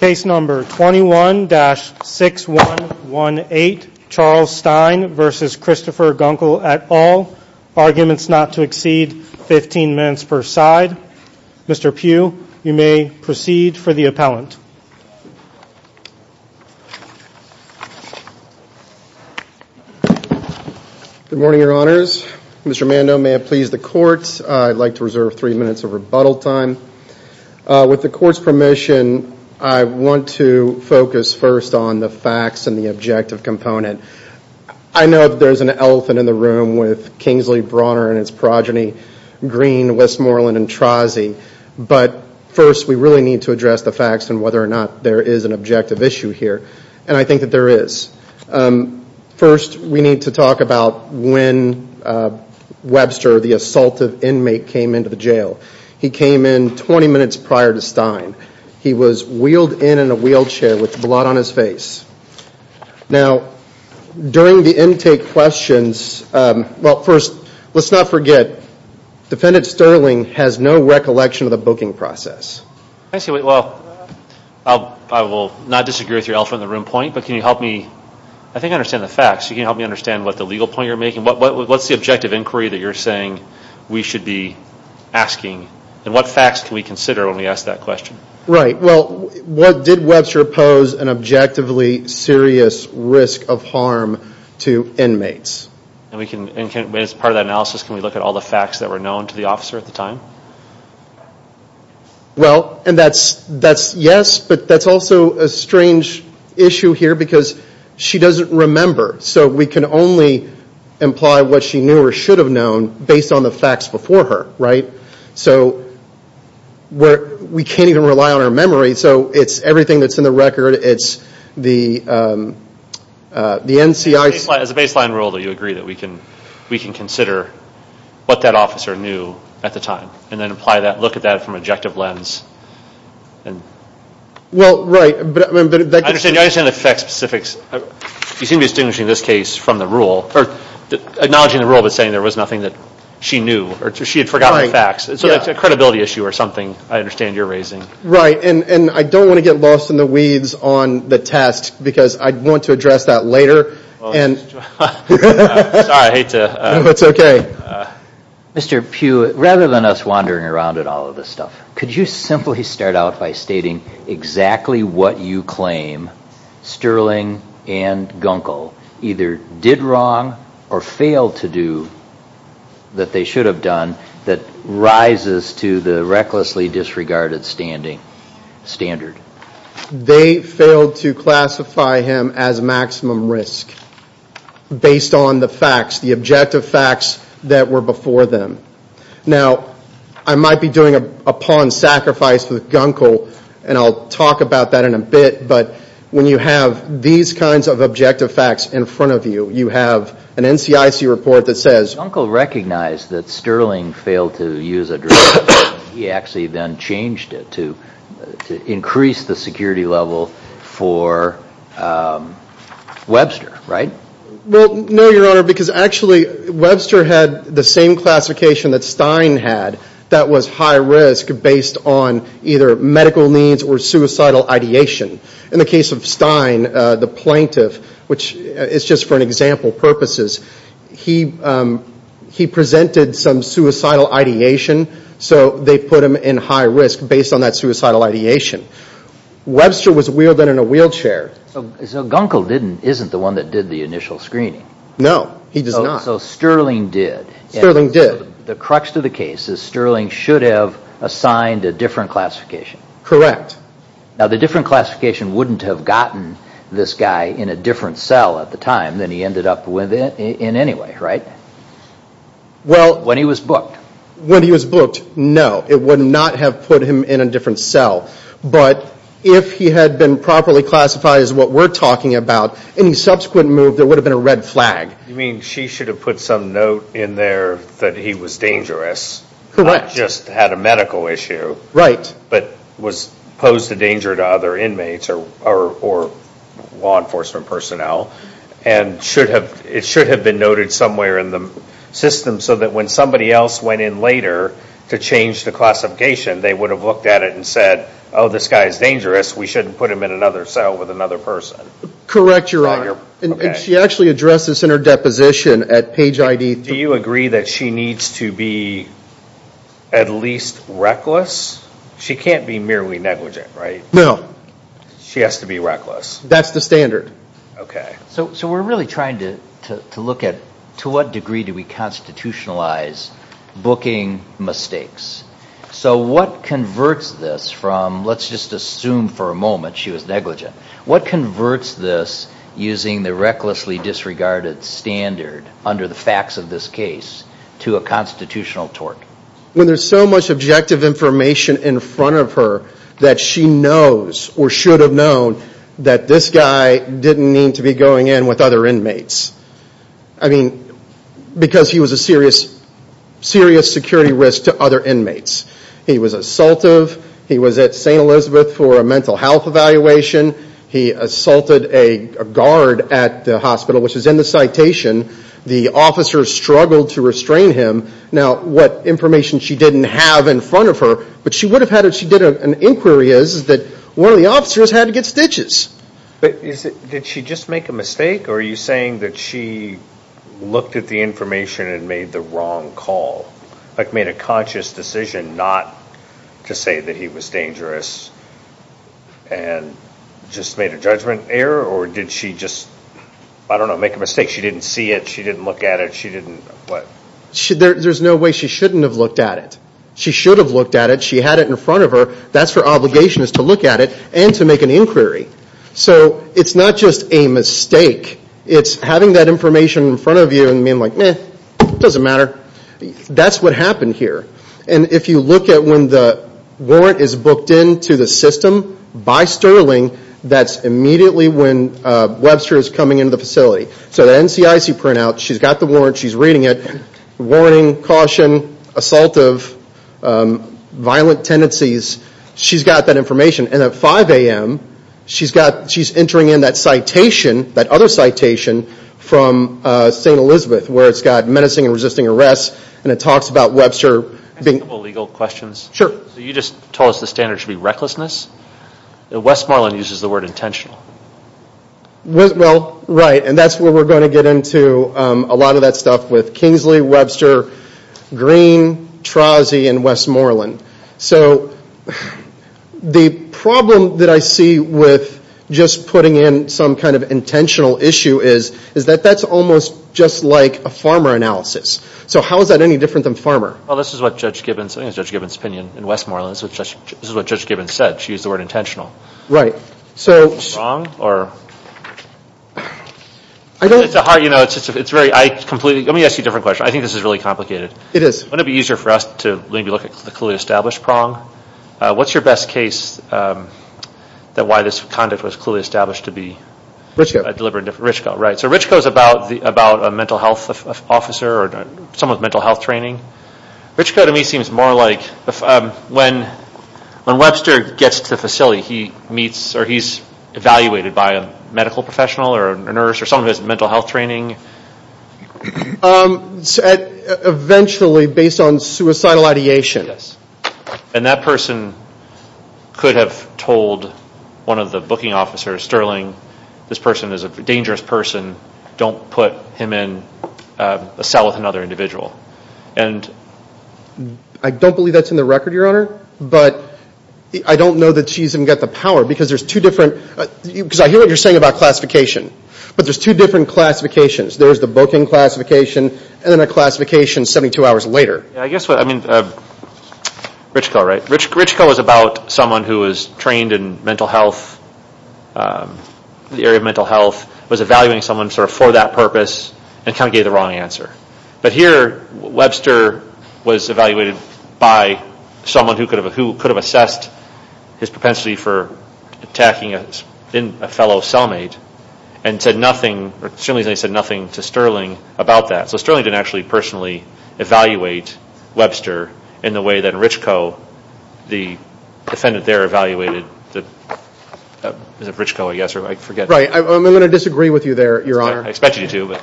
Case number 21-6118, Charles Stein v. Christopher Gunkel et al. Arguments not to exceed 15 minutes per side. Mr. Pugh, you may proceed for the appellant. Good morning, your honors. Mr. Mando, may I please the court? I'd like to reserve three minutes of rebuttal time. With the court's permission, I want to focus first on the facts and the objective component. I know that there's an elephant in the room with Kingsley, Brawner, and his progeny, Green, Westmoreland, and Trozzi. But first, we really need to address the facts and whether or not there is an objective issue here. And I think that there is. First, we need to talk about when Webster, the assaultive inmate, came into the jail. He came in 20 minutes prior to Stein. He was wheeled in in a wheelchair with blood on his face. Now, during the intake questions, well, first, let's not forget, Defendant Sterling has no recollection of the booking process. Well, I will not disagree with your elephant in the room point, but can you help me? I think I understand the facts. Can you help me understand what the legal point you're making? What's the objective inquiry that you're saying we should be asking? And what facts can we consider when we ask that question? Right, well, did Webster pose an objectively serious risk of harm to inmates? And as part of that analysis, can we look at all the facts that were known to the officer at the time? Well, and that's yes, but that's also a strange issue here because she doesn't remember. So we can only imply what she knew or should have known based on the facts before her, right? So we can't even rely on our memory. So it's everything that's in the record. It's the NCI. As a baseline rule, do you agree that we can consider what that officer knew at the time and then apply that, look at that from an objective lens? Well, right. I understand the fact specifics. You seem to be distinguishing this case from the rule or acknowledging the rule but saying there was nothing that she knew or she had forgotten the facts. So it's a credibility issue or something I understand you're raising. Right, and I don't want to get lost in the weeds on the test because I'd want to address that later. Sorry, I hate to. No, it's okay. Mr. Pugh, rather than us wandering around in all of this stuff, could you simply start out by stating exactly what you claim Sterling and Gunkel either did wrong or failed to do that they should have done that rises to the recklessly disregarded standing standard? They failed to classify him as maximum risk based on the facts, the objective facts that were before them. Now, I might be doing a pawn sacrifice with Gunkel, and I'll talk about that in a bit, but when you have these kinds of objective facts in front of you, you have an NCIC report that says Gunkel recognized that Sterling failed to use a drug. He actually then changed it to increase the security level for Webster, right? Well, no, Your Honor, because actually Webster had the same classification that Stein had that was high risk based on either medical needs or suicidal ideation. In the case of Stein, the plaintiff, which is just for an example purposes, he presented some suicidal ideation, so they put him in high risk based on that suicidal ideation. Webster was wheeled in in a wheelchair. So Gunkel isn't the one that did the initial screening. No, he does not. So Sterling did. Sterling did. The crux to the case is Sterling should have assigned a different classification. Correct. Now, the different classification wouldn't have gotten this guy in a different cell at the time than he ended up in anyway, right? When he was booked. When he was booked, no, it would not have put him in a different cell, but if he had been properly classified as what we're talking about, any subsequent move, there would have been a red flag. You mean she should have put some note in there that he was dangerous. Correct. Not just had a medical issue. Right. But was posed a danger to other inmates or law enforcement personnel and it should have been noted somewhere in the system so that when somebody else went in later to change the classification, they would have looked at it and said, oh, this guy is dangerous, we shouldn't put him in another cell with another person. Correct, Your Honor. Okay. And she actually addressed this in her deposition at page ID. Do you agree that she needs to be at least reckless? She can't be merely negligent, right? No. She has to be reckless. That's the standard. Okay. So we're really trying to look at to what degree do we constitutionalize booking mistakes. So what converts this from, let's just assume for a moment she was negligent, what converts this using the recklessly disregarded standard under the facts of this case to a constitutional tort? When there's so much objective information in front of her that she knows or should have known that this guy didn't need to be going in with other inmates. I mean, because he was a serious security risk to other inmates. He was assaultive. He was at St. Elizabeth for a mental health evaluation. He assaulted a guard at the hospital, which is in the citation. The officers struggled to restrain him. Now, what information she didn't have in front of her, but she would have had if she did an inquiry is that one of the officers had to get stitches. But did she just make a mistake, or are you saying that she looked at the information and made the wrong call, like made a conscious decision not to say that he was dangerous and just made a judgment error, or did she just, I don't know, make a mistake? She didn't see it. She didn't look at it. She didn't what? There's no way she shouldn't have looked at it. She should have looked at it. She had it in front of her. That's her obligation is to look at it and to make an inquiry. So it's not just a mistake. It's having that information in front of you and being like, meh, it doesn't matter. That's what happened here. And if you look at when the warrant is booked into the system by Sterling, that's immediately when Webster is coming into the facility. So the NCIC printout, she's got the warrant. She's reading it. Warning, caution, assaultive, violent tendencies. She's got that information. And at 5 a.m., she's entering in that citation, that other citation, from St. Elizabeth, where it's got menacing and resisting arrest, and it talks about Webster being Can I ask a couple legal questions? Sure. So you just told us the standard should be recklessness. Westmoreland uses the word intentional. Well, right. And that's where we're going to get into a lot of that stuff with Kingsley, Webster, Green, Trozzi, and Westmoreland. So the problem that I see with just putting in some kind of intentional issue is that that's almost just like a farmer analysis. So how is that any different than farmer? Well, this is what Judge Gibbons' opinion in Westmoreland. This is what Judge Gibbons said. She used the word intentional. Right. Prong? It's a hard, you know, it's very, I completely, let me ask you a different question. I think this is really complicated. It is. Wouldn't it be easier for us to maybe look at the clearly established prong? What's your best case that why this conduct was clearly established to be deliberate? Richco. Richco, right. So Richco is about a mental health officer or someone with mental health training. Richco to me seems more like when Webster gets to the facility, he meets or he's evaluated by a medical professional or a nurse or someone who has mental health training. Eventually based on suicidal ideation. Yes. And that person could have told one of the booking officers, Sterling, this person is a dangerous person. Don't put him in a cell with another individual. I don't believe that's in the record, Your Honor, but I don't know that she's even got the power because there's two different, because I hear what you're saying about classification, but there's two different classifications. There's the booking classification and then a classification 72 hours later. I guess what, I mean, Richco, right. Richco is about someone who is trained in mental health, the area of mental health, was evaluating someone sort of for that purpose and kind of gave the wrong answer. But here Webster was evaluated by someone who could have assessed his propensity for attacking a fellow cellmate and said nothing, or certainly said nothing to Sterling about that. So Sterling didn't actually personally evaluate Webster in the way that Richco, the defendant there, evaluated. Is it Richco, I guess, or I forget. I'm going to disagree with you there, Your Honor. I expect you to.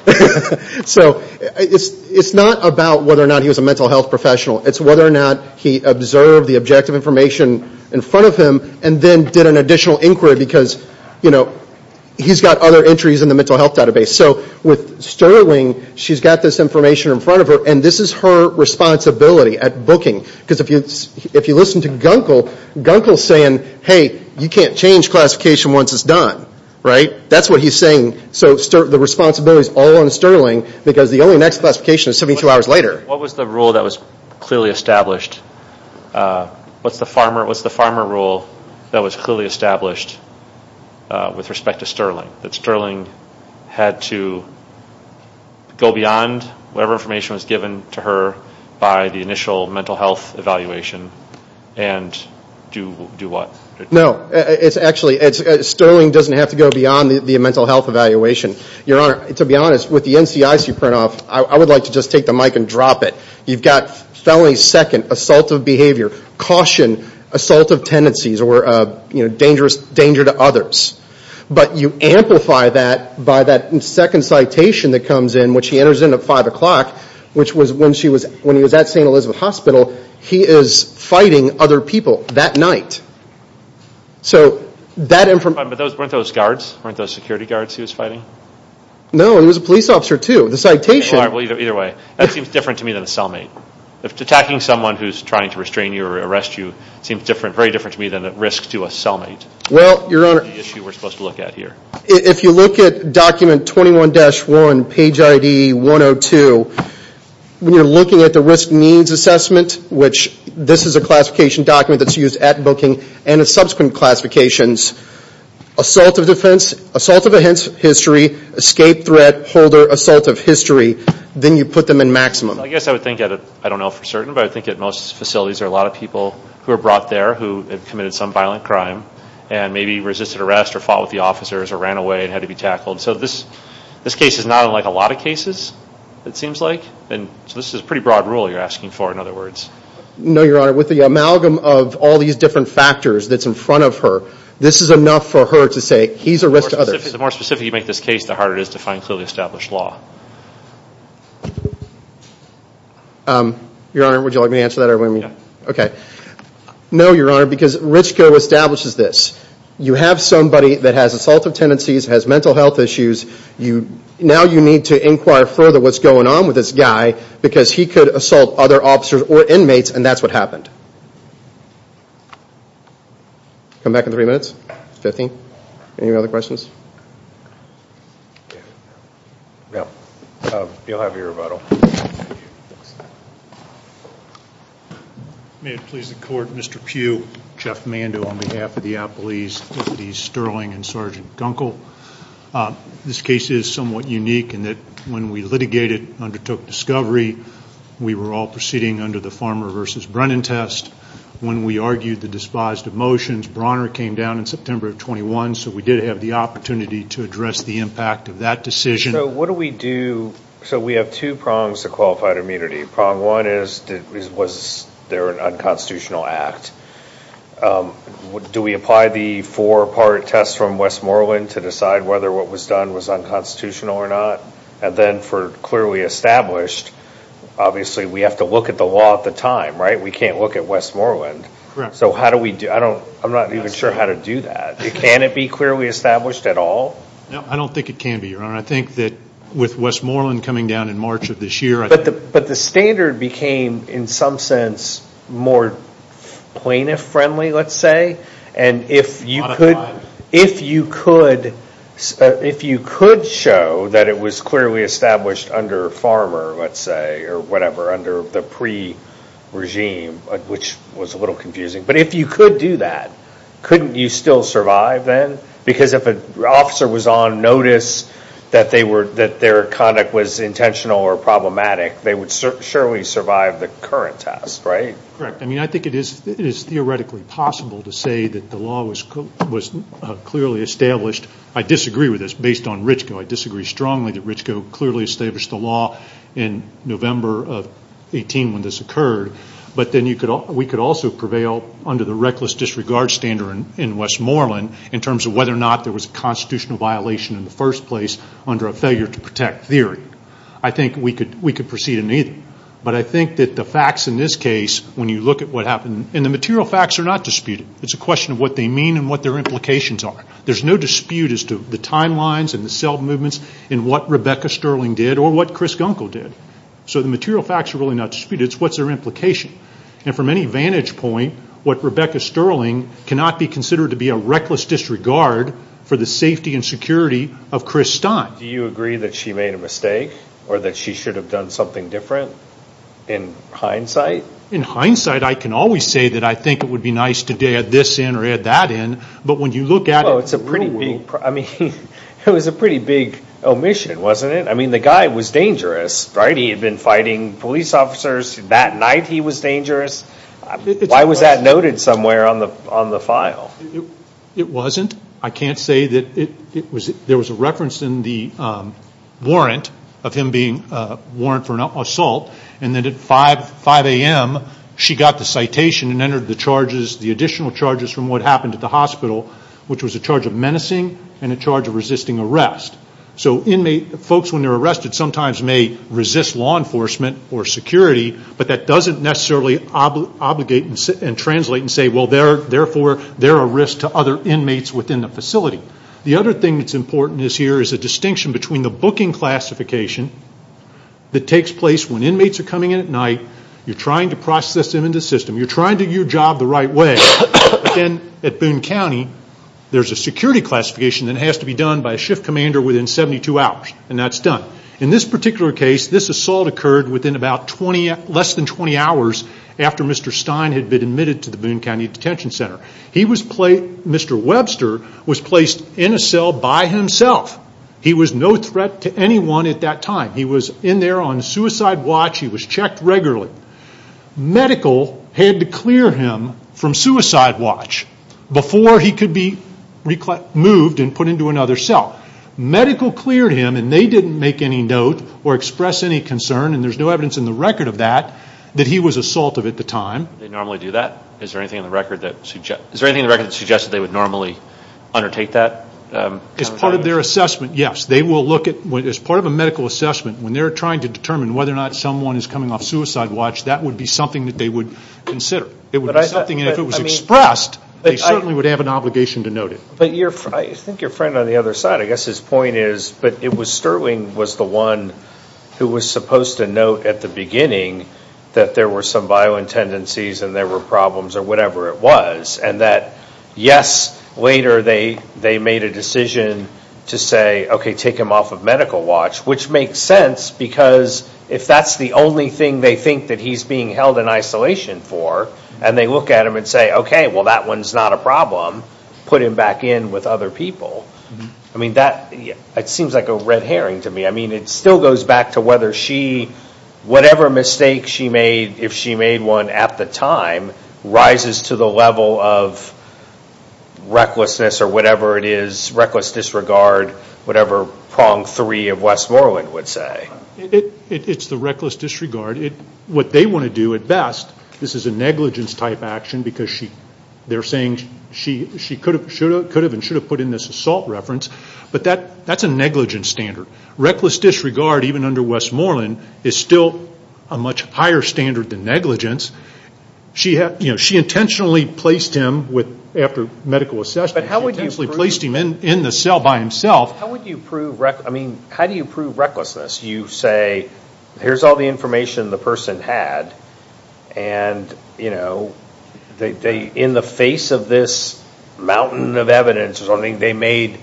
So it's not about whether or not he was a mental health professional. It's whether or not he observed the objective information in front of him and then did an additional inquiry because he's got other entries in the mental health database. So with Sterling, she's got this information in front of her, and this is her responsibility at booking. Because if you listen to Gunkel, Gunkel is saying, hey, you can't change classification once it's done, right? That's what he's saying. So the responsibility is all on Sterling because the only next classification is 72 hours later. What was the rule that was clearly established? What's the farmer rule that was clearly established with respect to Sterling? That Sterling had to go beyond whatever information was given to her by the initial mental health evaluation and do what? No. Actually, Sterling doesn't have to go beyond the mental health evaluation. Your Honor, to be honest, with the NCIC print-off, I would like to just take the mic and drop it. You've got felony second, assaultive behavior, caution, assaultive tendencies, or danger to others. But you amplify that by that second citation that comes in, which he enters in at 5 o'clock, which was when he was at St. Elizabeth Hospital. He is fighting other people that night. So that information – But weren't those guards? Weren't those security guards he was fighting? No. He was a police officer, too. The citation – Well, either way. That seems different to me than a cellmate. Attacking someone who's trying to restrain you or arrest you seems very different to me than at risk to a cellmate. Well, Your Honor – The issue we're supposed to look at here. If you look at document 21-1, page ID 102, when you're looking at the risk needs assessment, which this is a classification document that's used at booking and in subsequent classifications, assaultive defense, assaultive history, escape threat, holder, assaultive history, then you put them in maximum. I guess I would think, I don't know for certain, but I think at most facilities there are a lot of people who are brought there who have committed some violent crime and maybe resisted arrest or fought with the officers or ran away and had to be tackled. So this case is not unlike a lot of cases, it seems like. So this is a pretty broad rule you're asking for, in other words. No, Your Honor. With the amalgam of all these different factors that's in front of her, this is enough for her to say he's a risk to others. The more specific you make this case, the harder it is to find clearly established law. Your Honor, would you like me to answer that? Yeah. Okay. No, Your Honor, because Richco establishes this. You have somebody that has assaultive tendencies, has mental health issues, now you need to inquire further what's going on with this guy because he could assault other officers or inmates and that's what happened. Come back in three minutes? Fifteen? Any other questions? No. You'll have your rebuttal. May it please the Court, Mr. Pugh, Jeff Mando, on behalf of the Applees, Timothy Sterling, and Sergeant Gunkel. This case is somewhat unique in that when we litigated and undertook discovery, we were all proceeding under the Farmer v. Brennan test. When we argued the despised of motions, Brawner came down in September of 21, so we did have the opportunity to address the impact of that decision. So what do we do? So we have two prongs to qualified immunity. Prong one is was there an unconstitutional act? Do we apply the four-part test from Westmoreland to decide whether what was done was unconstitutional or not? And then for clearly established, obviously we have to look at the law at the time, right? We can't look at Westmoreland. Correct. So how do we do it? I'm not even sure how to do that. Can it be clearly established at all? I don't think it can be, Your Honor. I think that with Westmoreland coming down in March of this year. But the standard became in some sense more plaintiff-friendly, let's say, and if you could show that it was clearly established under Farmer, let's say, or whatever, under the pre-regime, which was a little confusing, but if you could do that, couldn't you still survive then? Because if an officer was on notice that their conduct was intentional or problematic, they would surely survive the current test, right? Correct. I mean, I think it is theoretically possible to say that the law was clearly established. I disagree with this based on Richco. I disagree strongly that Richco clearly established the law in November of 18 when this occurred. But then we could also prevail under the reckless disregard standard in Westmoreland in terms of whether or not there was a constitutional violation in the first place under a failure to protect theory. I think we could proceed in either. But I think that the facts in this case, when you look at what happened, and the material facts are not disputed. It's a question of what they mean and what their implications are. There's no dispute as to the timelines and the cell movements and what Rebecca Sterling did or what Chris Gunkel did. So the material facts are really not disputed. It's what's their implication. And from any vantage point, what Rebecca Sterling cannot be considered to be a reckless disregard for the safety and security of Chris Stein. Do you agree that she made a mistake or that she should have done something different in hindsight? In hindsight, I can always say that I think it would be nice to add this in or add that in. But when you look at it, it's a pretty big omission, wasn't it? I mean, the guy was dangerous, right? He had been fighting police officers. That night he was dangerous. Why was that noted somewhere on the file? It wasn't. I can't say that it was. There was a reference in the warrant of him being warranted for an assault. And then at 5 a.m., she got the citation and entered the charges, the additional charges from what happened at the hospital, which was a charge of menacing and a charge of resisting arrest. So folks when they're arrested sometimes may resist law enforcement or security, but that doesn't necessarily obligate and translate and say, well, therefore, there are risks to other inmates within the facility. The other thing that's important here is the distinction between the booking classification that takes place when inmates are coming in at night. You're trying to process them into the system. You're trying to do your job the right way. At Boone County, there's a security classification that has to be done by a shift commander within 72 hours, and that's done. In this particular case, this assault occurred within less than 20 hours after Mr. Stein had been admitted to the Boone County Detention Center. Mr. Webster was placed in a cell by himself. He was no threat to anyone at that time. He was in there on suicide watch. He was checked regularly. Medical had to clear him from suicide watch before he could be moved and put into another cell. Medical cleared him, and they didn't make any note or express any concern, and there's no evidence in the record of that that he was assaultive at the time. They normally do that? Is there anything in the record that suggests that they would normally undertake that? As part of their assessment, yes. As part of a medical assessment, when they're trying to determine whether or not someone is coming off suicide watch, that would be something that they would consider. It would be something, and if it was expressed, they certainly would have an obligation to note it. I think your friend on the other side, I guess his point is, but it was Sterling was the one who was supposed to note at the beginning that there were some violent tendencies and there were problems or whatever it was, and that, yes, later they made a decision to say, okay, take him off of medical watch, which makes sense because if that's the only thing they think that he's being held in isolation for, and they look at him and say, okay, well, that one's not a problem, put him back in with other people. I mean, that seems like a red herring to me. I mean, it still goes back to whether she, whatever mistake she made, if she made one at the time, rises to the level of recklessness or whatever it is, It's the reckless disregard. What they want to do at best, this is a negligence type action, because they're saying she could have and should have put in this assault reference, but that's a negligence standard. Reckless disregard, even under Westmoreland, is still a much higher standard than negligence. She intentionally placed him after medical assessment, she intentionally placed him in the cell by himself. How do you prove recklessness? You say, here's all the information the person had, and, you know, in the face of this mountain of evidence, they made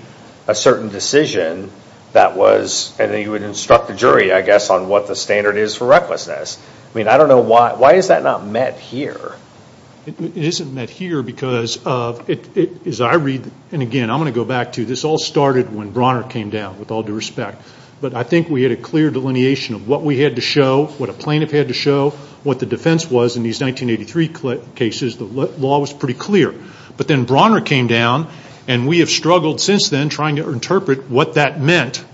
a certain decision that was, and then you would instruct the jury, I guess, on what the standard is for recklessness. I mean, I don't know why. Why is that not met here? It isn't met here because of, as I read, and again, I'm going to go back to, this all started when Brawner came down, with all due respect. But I think we had a clear delineation of what we had to show, what a plaintiff had to show, what the defense was in these 1983 cases. The law was pretty clear. But then Brawner came down, and we have struggled since then trying to interpret what that meant.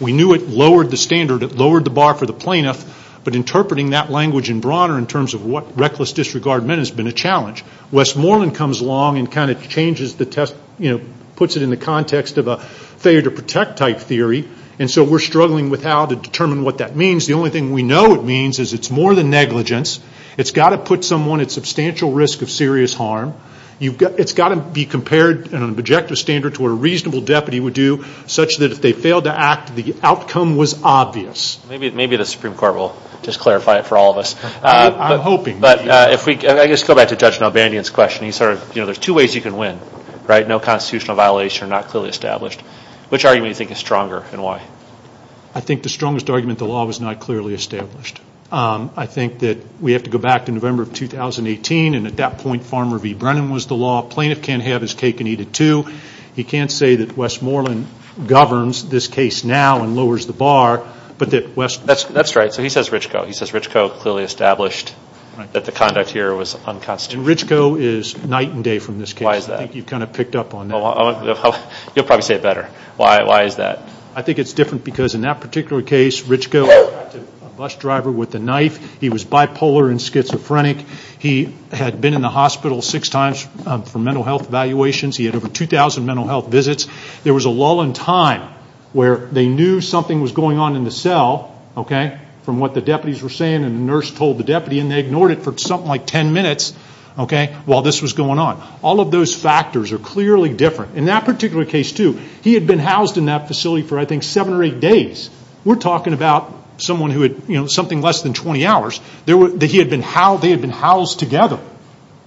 We knew it lowered the standard, it lowered the bar for the plaintiff, but interpreting that language in Brawner in terms of what reckless disregard meant has been a challenge. Westmoreland comes along and kind of changes the test, you know, puts it in the context of a failure to protect type theory, and so we're struggling with how to determine what that means. The only thing we know it means is it's more than negligence. It's got to put someone at substantial risk of serious harm. It's got to be compared in an objective standard to what a reasonable deputy would do, such that if they failed to act, the outcome was obvious. Maybe the Supreme Court will just clarify it for all of us. I'm hoping. But if we go back to Judge Nalbandian's question, he sort of, you know, there's two ways you can win, right? No constitutional violations are not clearly established. Which argument do you think is stronger, and why? I think the strongest argument, the law was not clearly established. I think that we have to go back to November of 2018, and at that point, Farmer v. Brennan was the law. Plaintiff can't have his cake and eat it too. He can't say that Westmoreland governs this case now and lowers the bar, but that Westmoreland. That's right. So he says Richco. He says Richco clearly established that the conduct here was unconstitutional. And Richco is night and day from this case. Why is that? I think you've kind of picked up on that. You'll probably say it better. Why is that? I think it's different because in that particular case, Richco was a bus driver with a knife. He was bipolar and schizophrenic. He had been in the hospital six times for mental health evaluations. He had over 2,000 mental health visits. There was a lull in time where they knew something was going on in the cell, from what the deputies were saying and the nurse told the deputy, and they ignored it for something like 10 minutes while this was going on. All of those factors are clearly different. In that particular case, too, he had been housed in that facility for, I think, seven or eight days. We're talking about someone who had something less than 20 hours. They had been housed together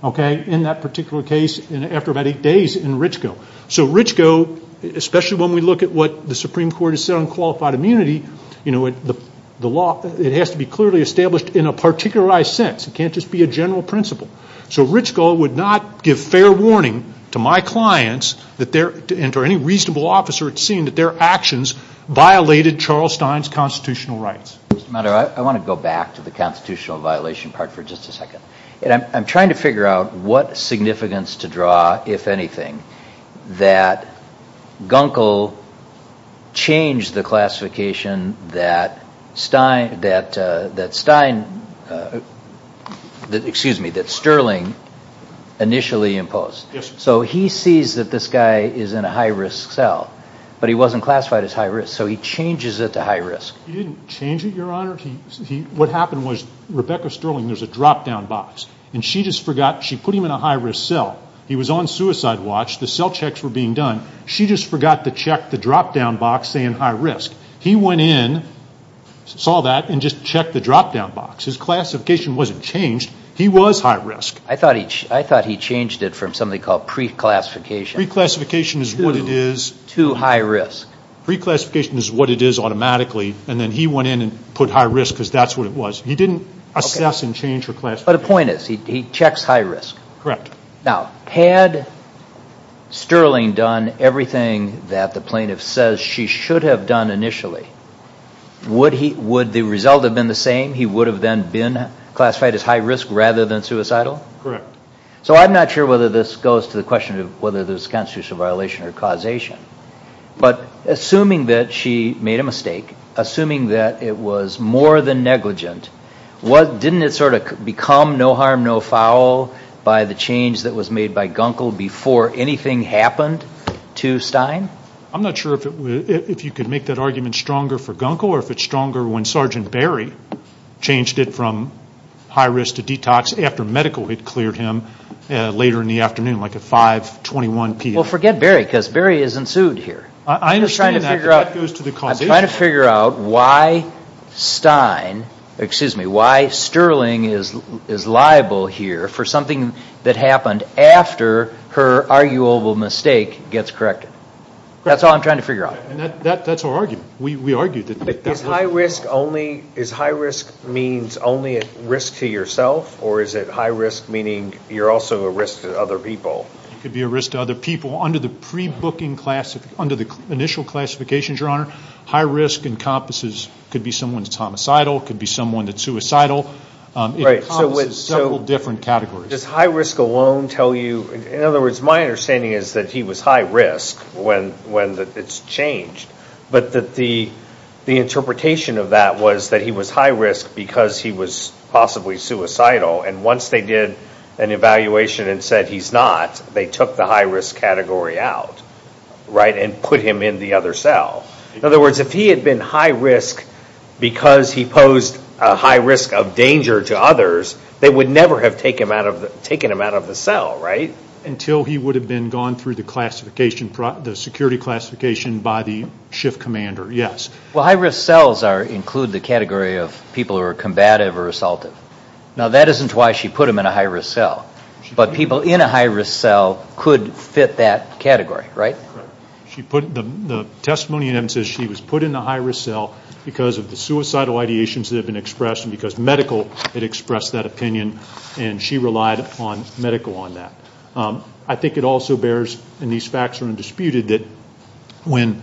in that particular case after about eight days in Richco. So Richco, especially when we look at what the Supreme Court has said on qualified immunity, it has to be clearly established in a particularized sense. It can't just be a general principle. So Richco would not give fair warning to my clients and to any reasonable officer at seeing that their actions violated Charles Stein's constitutional rights. Mr. Maddox, I want to go back to the constitutional violation part for just a second. I'm trying to figure out what significance to draw, if anything, that Gunkel changed the classification that Sterling initially imposed. So he sees that this guy is in a high-risk cell, but he wasn't classified as high-risk, so he changes it to high-risk. He didn't change it, Your Honor. What happened was Rebecca Sterling, there's a drop-down box, and she just forgot. She put him in a high-risk cell. He was on suicide watch. The cell checks were being done. She just forgot to check the drop-down box saying high-risk. He went in, saw that, and just checked the drop-down box. His classification wasn't changed. He was high-risk. I thought he changed it from something called pre-classification to high-risk. Pre-classification is what it is automatically, and then he went in and put high-risk because that's what it was. He didn't assess and change her classification. But the point is he checks high-risk. Correct. Now, had Sterling done everything that the plaintiff says she should have done initially, would the result have been the same? He would have then been classified as high-risk rather than suicidal? Correct. So I'm not sure whether this goes to the question of whether there's a constitutional violation or causation, but assuming that she made a mistake, assuming that it was more than negligent, didn't it sort of become no harm, no foul by the change that was made by Gunkel before anything happened to Stein? I'm not sure if you could make that argument stronger for Gunkel or if it's stronger when Sergeant Berry changed it from high-risk to detox after medical had cleared him later in the afternoon, like at 5.21 p.m. Well, forget Berry because Berry isn't sued here. I understand that, but that goes to the causation. I'm just trying to figure out why Sterling is liable here for something that happened after her arguable mistake gets corrected. That's all I'm trying to figure out. That's our argument. We argue that that's right. Is high-risk means only at risk to yourself, or is it high-risk meaning you're also a risk to other people? It could be a risk to other people. Under the initial classifications, Your Honor, high-risk encompasses could be someone that's homicidal, could be someone that's suicidal. It encompasses several different categories. Does high-risk alone tell you? In other words, my understanding is that he was high-risk when it's changed, but that the interpretation of that was that he was high-risk because he was possibly suicidal, and once they did an evaluation and said he's not, they took the high-risk category out, right, and put him in the other cell. In other words, if he had been high-risk because he posed a high risk of danger to others, they would never have taken him out of the cell, right? Until he would have been gone through the security classification by the shift commander, yes. Well, high-risk cells include the category of people who are combative or assaultive. Now, that isn't why she put him in a high-risk cell, but people in a high-risk cell could fit that category, right? Correct. The testimony in it says she was put in a high-risk cell because of the suicidal ideations that had been expressed and because medical had expressed that opinion, and she relied on medical on that. I think it also bears, and these facts are undisputed, that when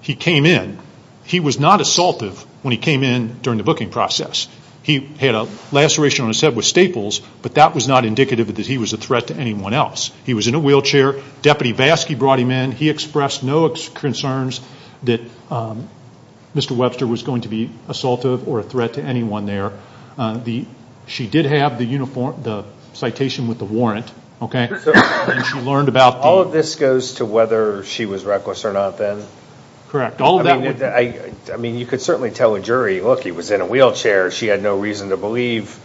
he came in, he was not assaultive when he came in during the booking process. He had a laceration on his head with staples, but that was not indicative that he was a threat to anyone else. He was in a wheelchair. Deputy Vaskey brought him in. He expressed no concerns that Mr. Webster was going to be assaultive or a threat to anyone there. She did have the citation with the warrant, okay, and she learned about the— All of this goes to whether she was reckless or not then? Correct. I mean, you could certainly tell a jury, look, he was in a wheelchair. She had no reason to believe.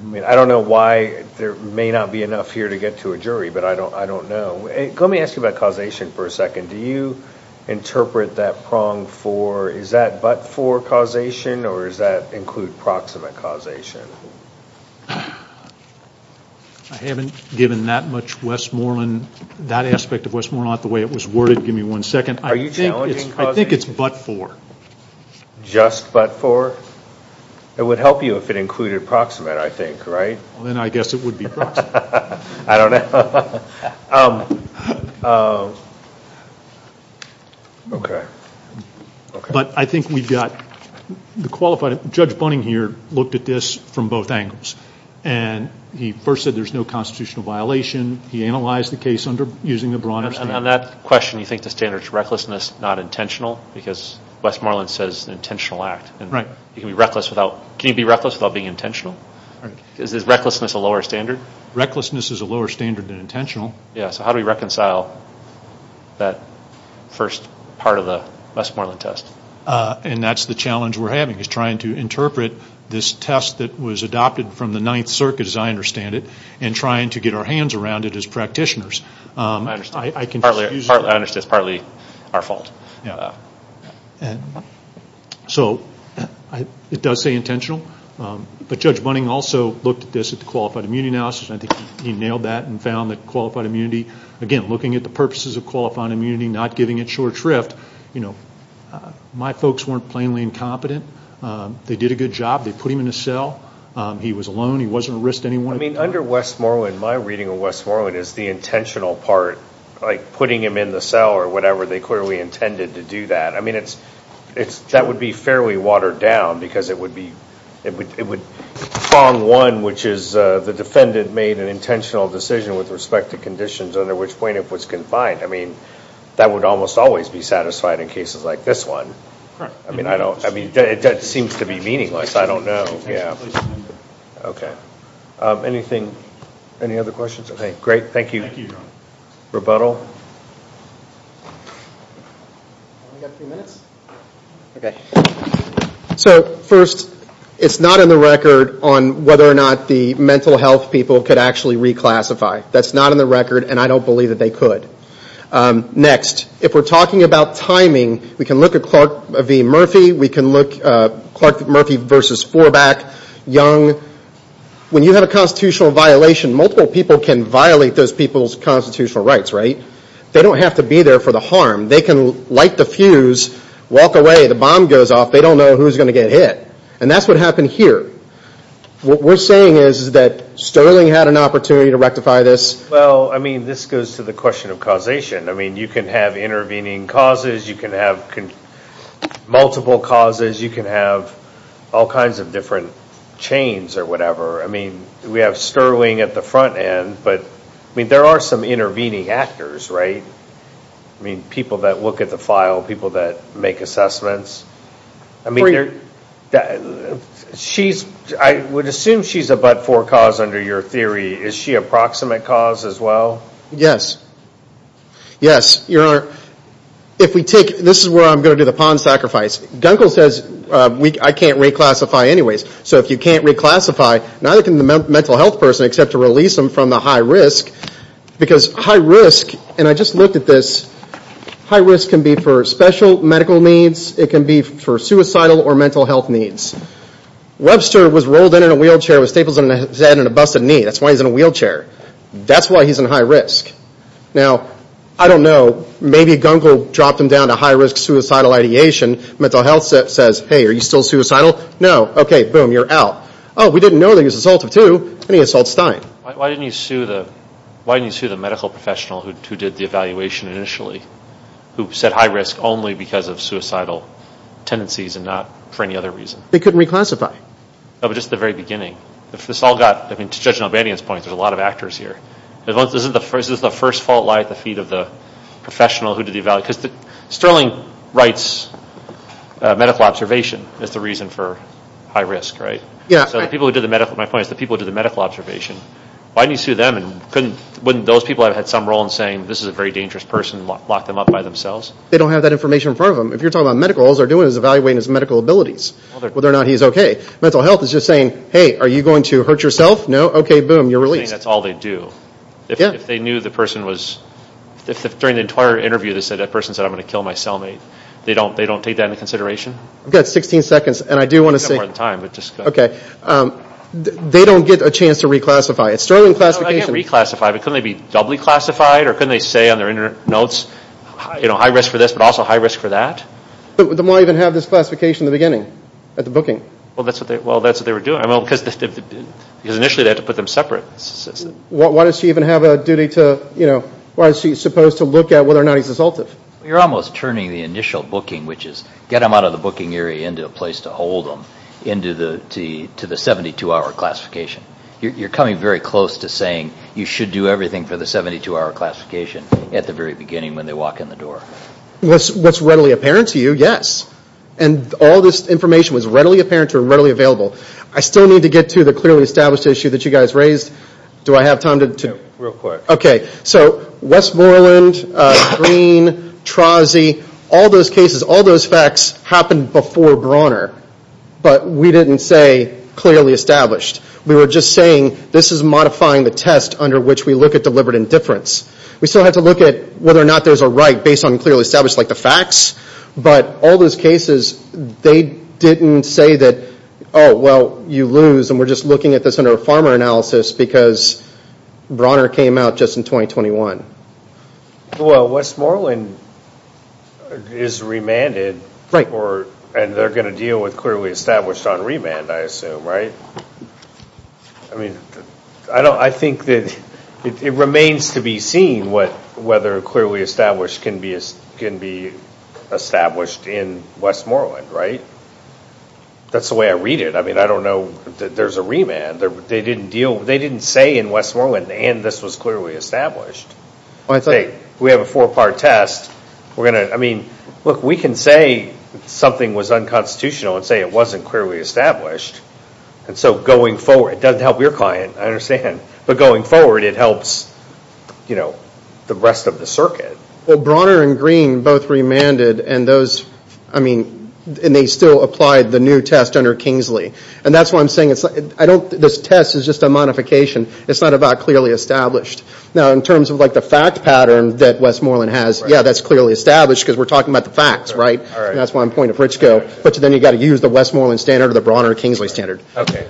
I mean, I don't know why there may not be enough here to get to a jury, but I don't know. Let me ask you about causation for a second. Do you interpret that prong for is that but-for causation or does that include proximate causation? I haven't given that aspect of Westmoreland the way it was worded. Give me one second. Are you challenging causation? I think it's but-for. Just but-for? It would help you if it included proximate, I think, right? Well, then I guess it would be proximate. I don't know. Okay. But I think we've got the qualified—Judge Bunning here looked at this from both angles, and he first said there's no constitutional violation. He analyzed the case using the Bronner standard. On that question, you think the standard is recklessness, not intentional? Because Westmoreland says intentional act. Can you be reckless without being intentional? Is recklessness a lower standard? Recklessness is a lower standard than intentional. Yeah. So how do we reconcile that first part of the Westmoreland test? And that's the challenge we're having is trying to interpret this test that was adopted from the Ninth Circuit, as I understand it, and trying to get our hands around it as practitioners. I understand. I can use— I understand it's partly our fault. Yeah. So it does say intentional. But Judge Bunning also looked at this at the qualified immunity analysis, and I think he nailed that and found that qualified immunity, again, looking at the purposes of qualified immunity, not giving it short shrift. You know, my folks weren't plainly incompetent. They did a good job. They put him in a cell. He was alone. He wasn't a risk to anyone. I mean, under Westmoreland, my reading of Westmoreland is the intentional part, like putting him in the cell or whatever. They clearly intended to do that. I mean, that would be fairly watered down because it would be— prong one, which is the defendant made an intentional decision with respect to conditions under which plaintiff was confined. I mean, that would almost always be satisfied in cases like this one. I mean, that seems to be meaningless. I don't know. Okay. Anything? Any other questions? Okay, great. Thank you. Rebuttal? So first, it's not in the record on whether or not the mental health people could actually reclassify. That's not in the record, and I don't believe that they could. Next, if we're talking about timing, we can look at Clark v. Murphy. We can look at Clark v. Murphy versus Fourback, Young. When you have a constitutional violation, multiple people can violate those people's constitutional rights, right? They don't have to be there for the harm. They can light the fuse, walk away, the bomb goes off. They don't know who's going to get hit. And that's what happened here. What we're saying is that Sterling had an opportunity to rectify this. Well, I mean, this goes to the question of causation. I mean, you can have intervening causes. You can have multiple causes. You can have all kinds of different chains or whatever. I mean, we have Sterling at the front end, but, I mean, there are some intervening actors, right? I mean, people that look at the file, people that make assessments. I mean, I would assume she's a but-for cause under your theory. Is she a proximate cause as well? Yes. Yes. If we take, this is where I'm going to do the pawn sacrifice. Dunkel says I can't reclassify anyways. So if you can't reclassify, neither can the mental health person except to release them from the high risk. Because high risk, and I just looked at this, high risk can be for special medical needs. It can be for suicidal or mental health needs. Webster was rolled in in a wheelchair with staples in his head and a busted knee. That's why he's in a wheelchair. That's why he's in high risk. Now, I don't know, maybe Dunkel dropped him down to high risk suicidal ideation. Mental health says, hey, are you still suicidal? No. Okay, boom, you're out. Oh, we didn't know that he was assaultive too, and he assaults Stein. Why didn't you sue the medical professional who did the evaluation initially, who said high risk only because of suicidal tendencies and not for any other reason? They couldn't reclassify. No, but just at the very beginning. If this all got, I mean, to Judge Nalbanian's point, there's a lot of actors here. Does the first fault lie at the feet of the professional who did the evaluation? Because Sterling writes medical observation is the reason for high risk, right? Yeah. So the people who did the medical, my point is the people who did the medical observation, why didn't you sue them? And couldn't, wouldn't those people have had some role in saying this is a very dangerous person and locked them up by themselves? They don't have that information in front of them. If you're talking about medical, all they're doing is evaluating his medical abilities, whether or not he's okay. Mental health is just saying, hey, are you going to hurt yourself? No? Okay, boom, you're released. You're saying that's all they do. Yeah. If they knew the person was, if during the entire interview they said that person said, I'm going to kill my cellmate, they don't take that into consideration? I've got 16 seconds, and I do want to say. You've got more than time, but just go. Okay. They don't get a chance to reclassify. It's Sterling classification. No, they can't reclassify, but couldn't they be doubly classified, or couldn't they say on their notes, you know, high risk for this, but also high risk for that? But why even have this classification in the beginning, at the booking? Well, that's what they were doing, because initially they had to put them separate. Why does he even have a duty to, you know, why is he supposed to look at whether or not he's assaultive? You're almost turning the initial booking, which is get them out of the booking area into a place to hold them, into the 72-hour classification. You're coming very close to saying you should do everything for the 72-hour classification at the very beginning when they walk in the door. What's readily apparent to you, yes. And all this information was readily apparent or readily available. I still need to get to the clearly established issue that you guys raised. Do I have time to? Real quick. Okay. So Westmoreland, Green, Trozzi, all those cases, all those facts happened before Brawner. But we didn't say clearly established. We were just saying this is modifying the test under which we look at deliberate indifference. But all those cases, they didn't say that, oh, well, you lose, and we're just looking at this under a farmer analysis because Brawner came out just in 2021. Well, Westmoreland is remanded. Right. And they're going to deal with clearly established on remand, I assume, right? I mean, I think that it remains to be seen whether clearly established can be established in Westmoreland, right? That's the way I read it. I mean, I don't know that there's a remand. They didn't say in Westmoreland, and this was clearly established. We have a four-part test. I mean, look, we can say something was unconstitutional and say it wasn't clearly established. And so going forward, it doesn't help your client, I understand. But going forward, it helps, you know, the rest of the circuit. Well, Brawner and Green both remanded, and they still applied the new test under Kingsley. And that's why I'm saying this test is just a modification. It's not about clearly established. Now, in terms of, like, the fact pattern that Westmoreland has, yeah, that's clearly established because we're talking about the facts, right? But then you've got to use the Westmoreland standard or the Brawner-Kingsley standard. Okay.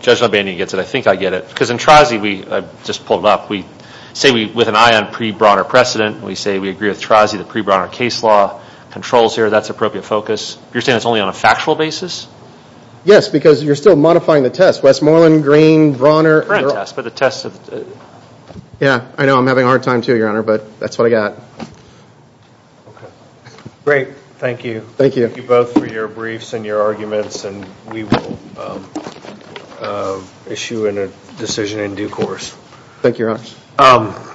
Judge Labanian gets it. I think I get it. Because in TRIZE, I just pulled it up, we say with an eye on pre-Brawner precedent, we say we agree with TRIZE, the pre-Brawner case law controls here. That's appropriate focus. You're saying it's only on a factual basis? Yes, because you're still modifying the test. Westmoreland, Green, Brawner. Current test, but the test. Yeah, I know I'm having a hard time, too, Your Honor, but that's what I got. Okay. Great. Thank you. Thank you. Thank you both for your briefs and your arguments, and we will issue a decision in due course. Thank you, Your Honor.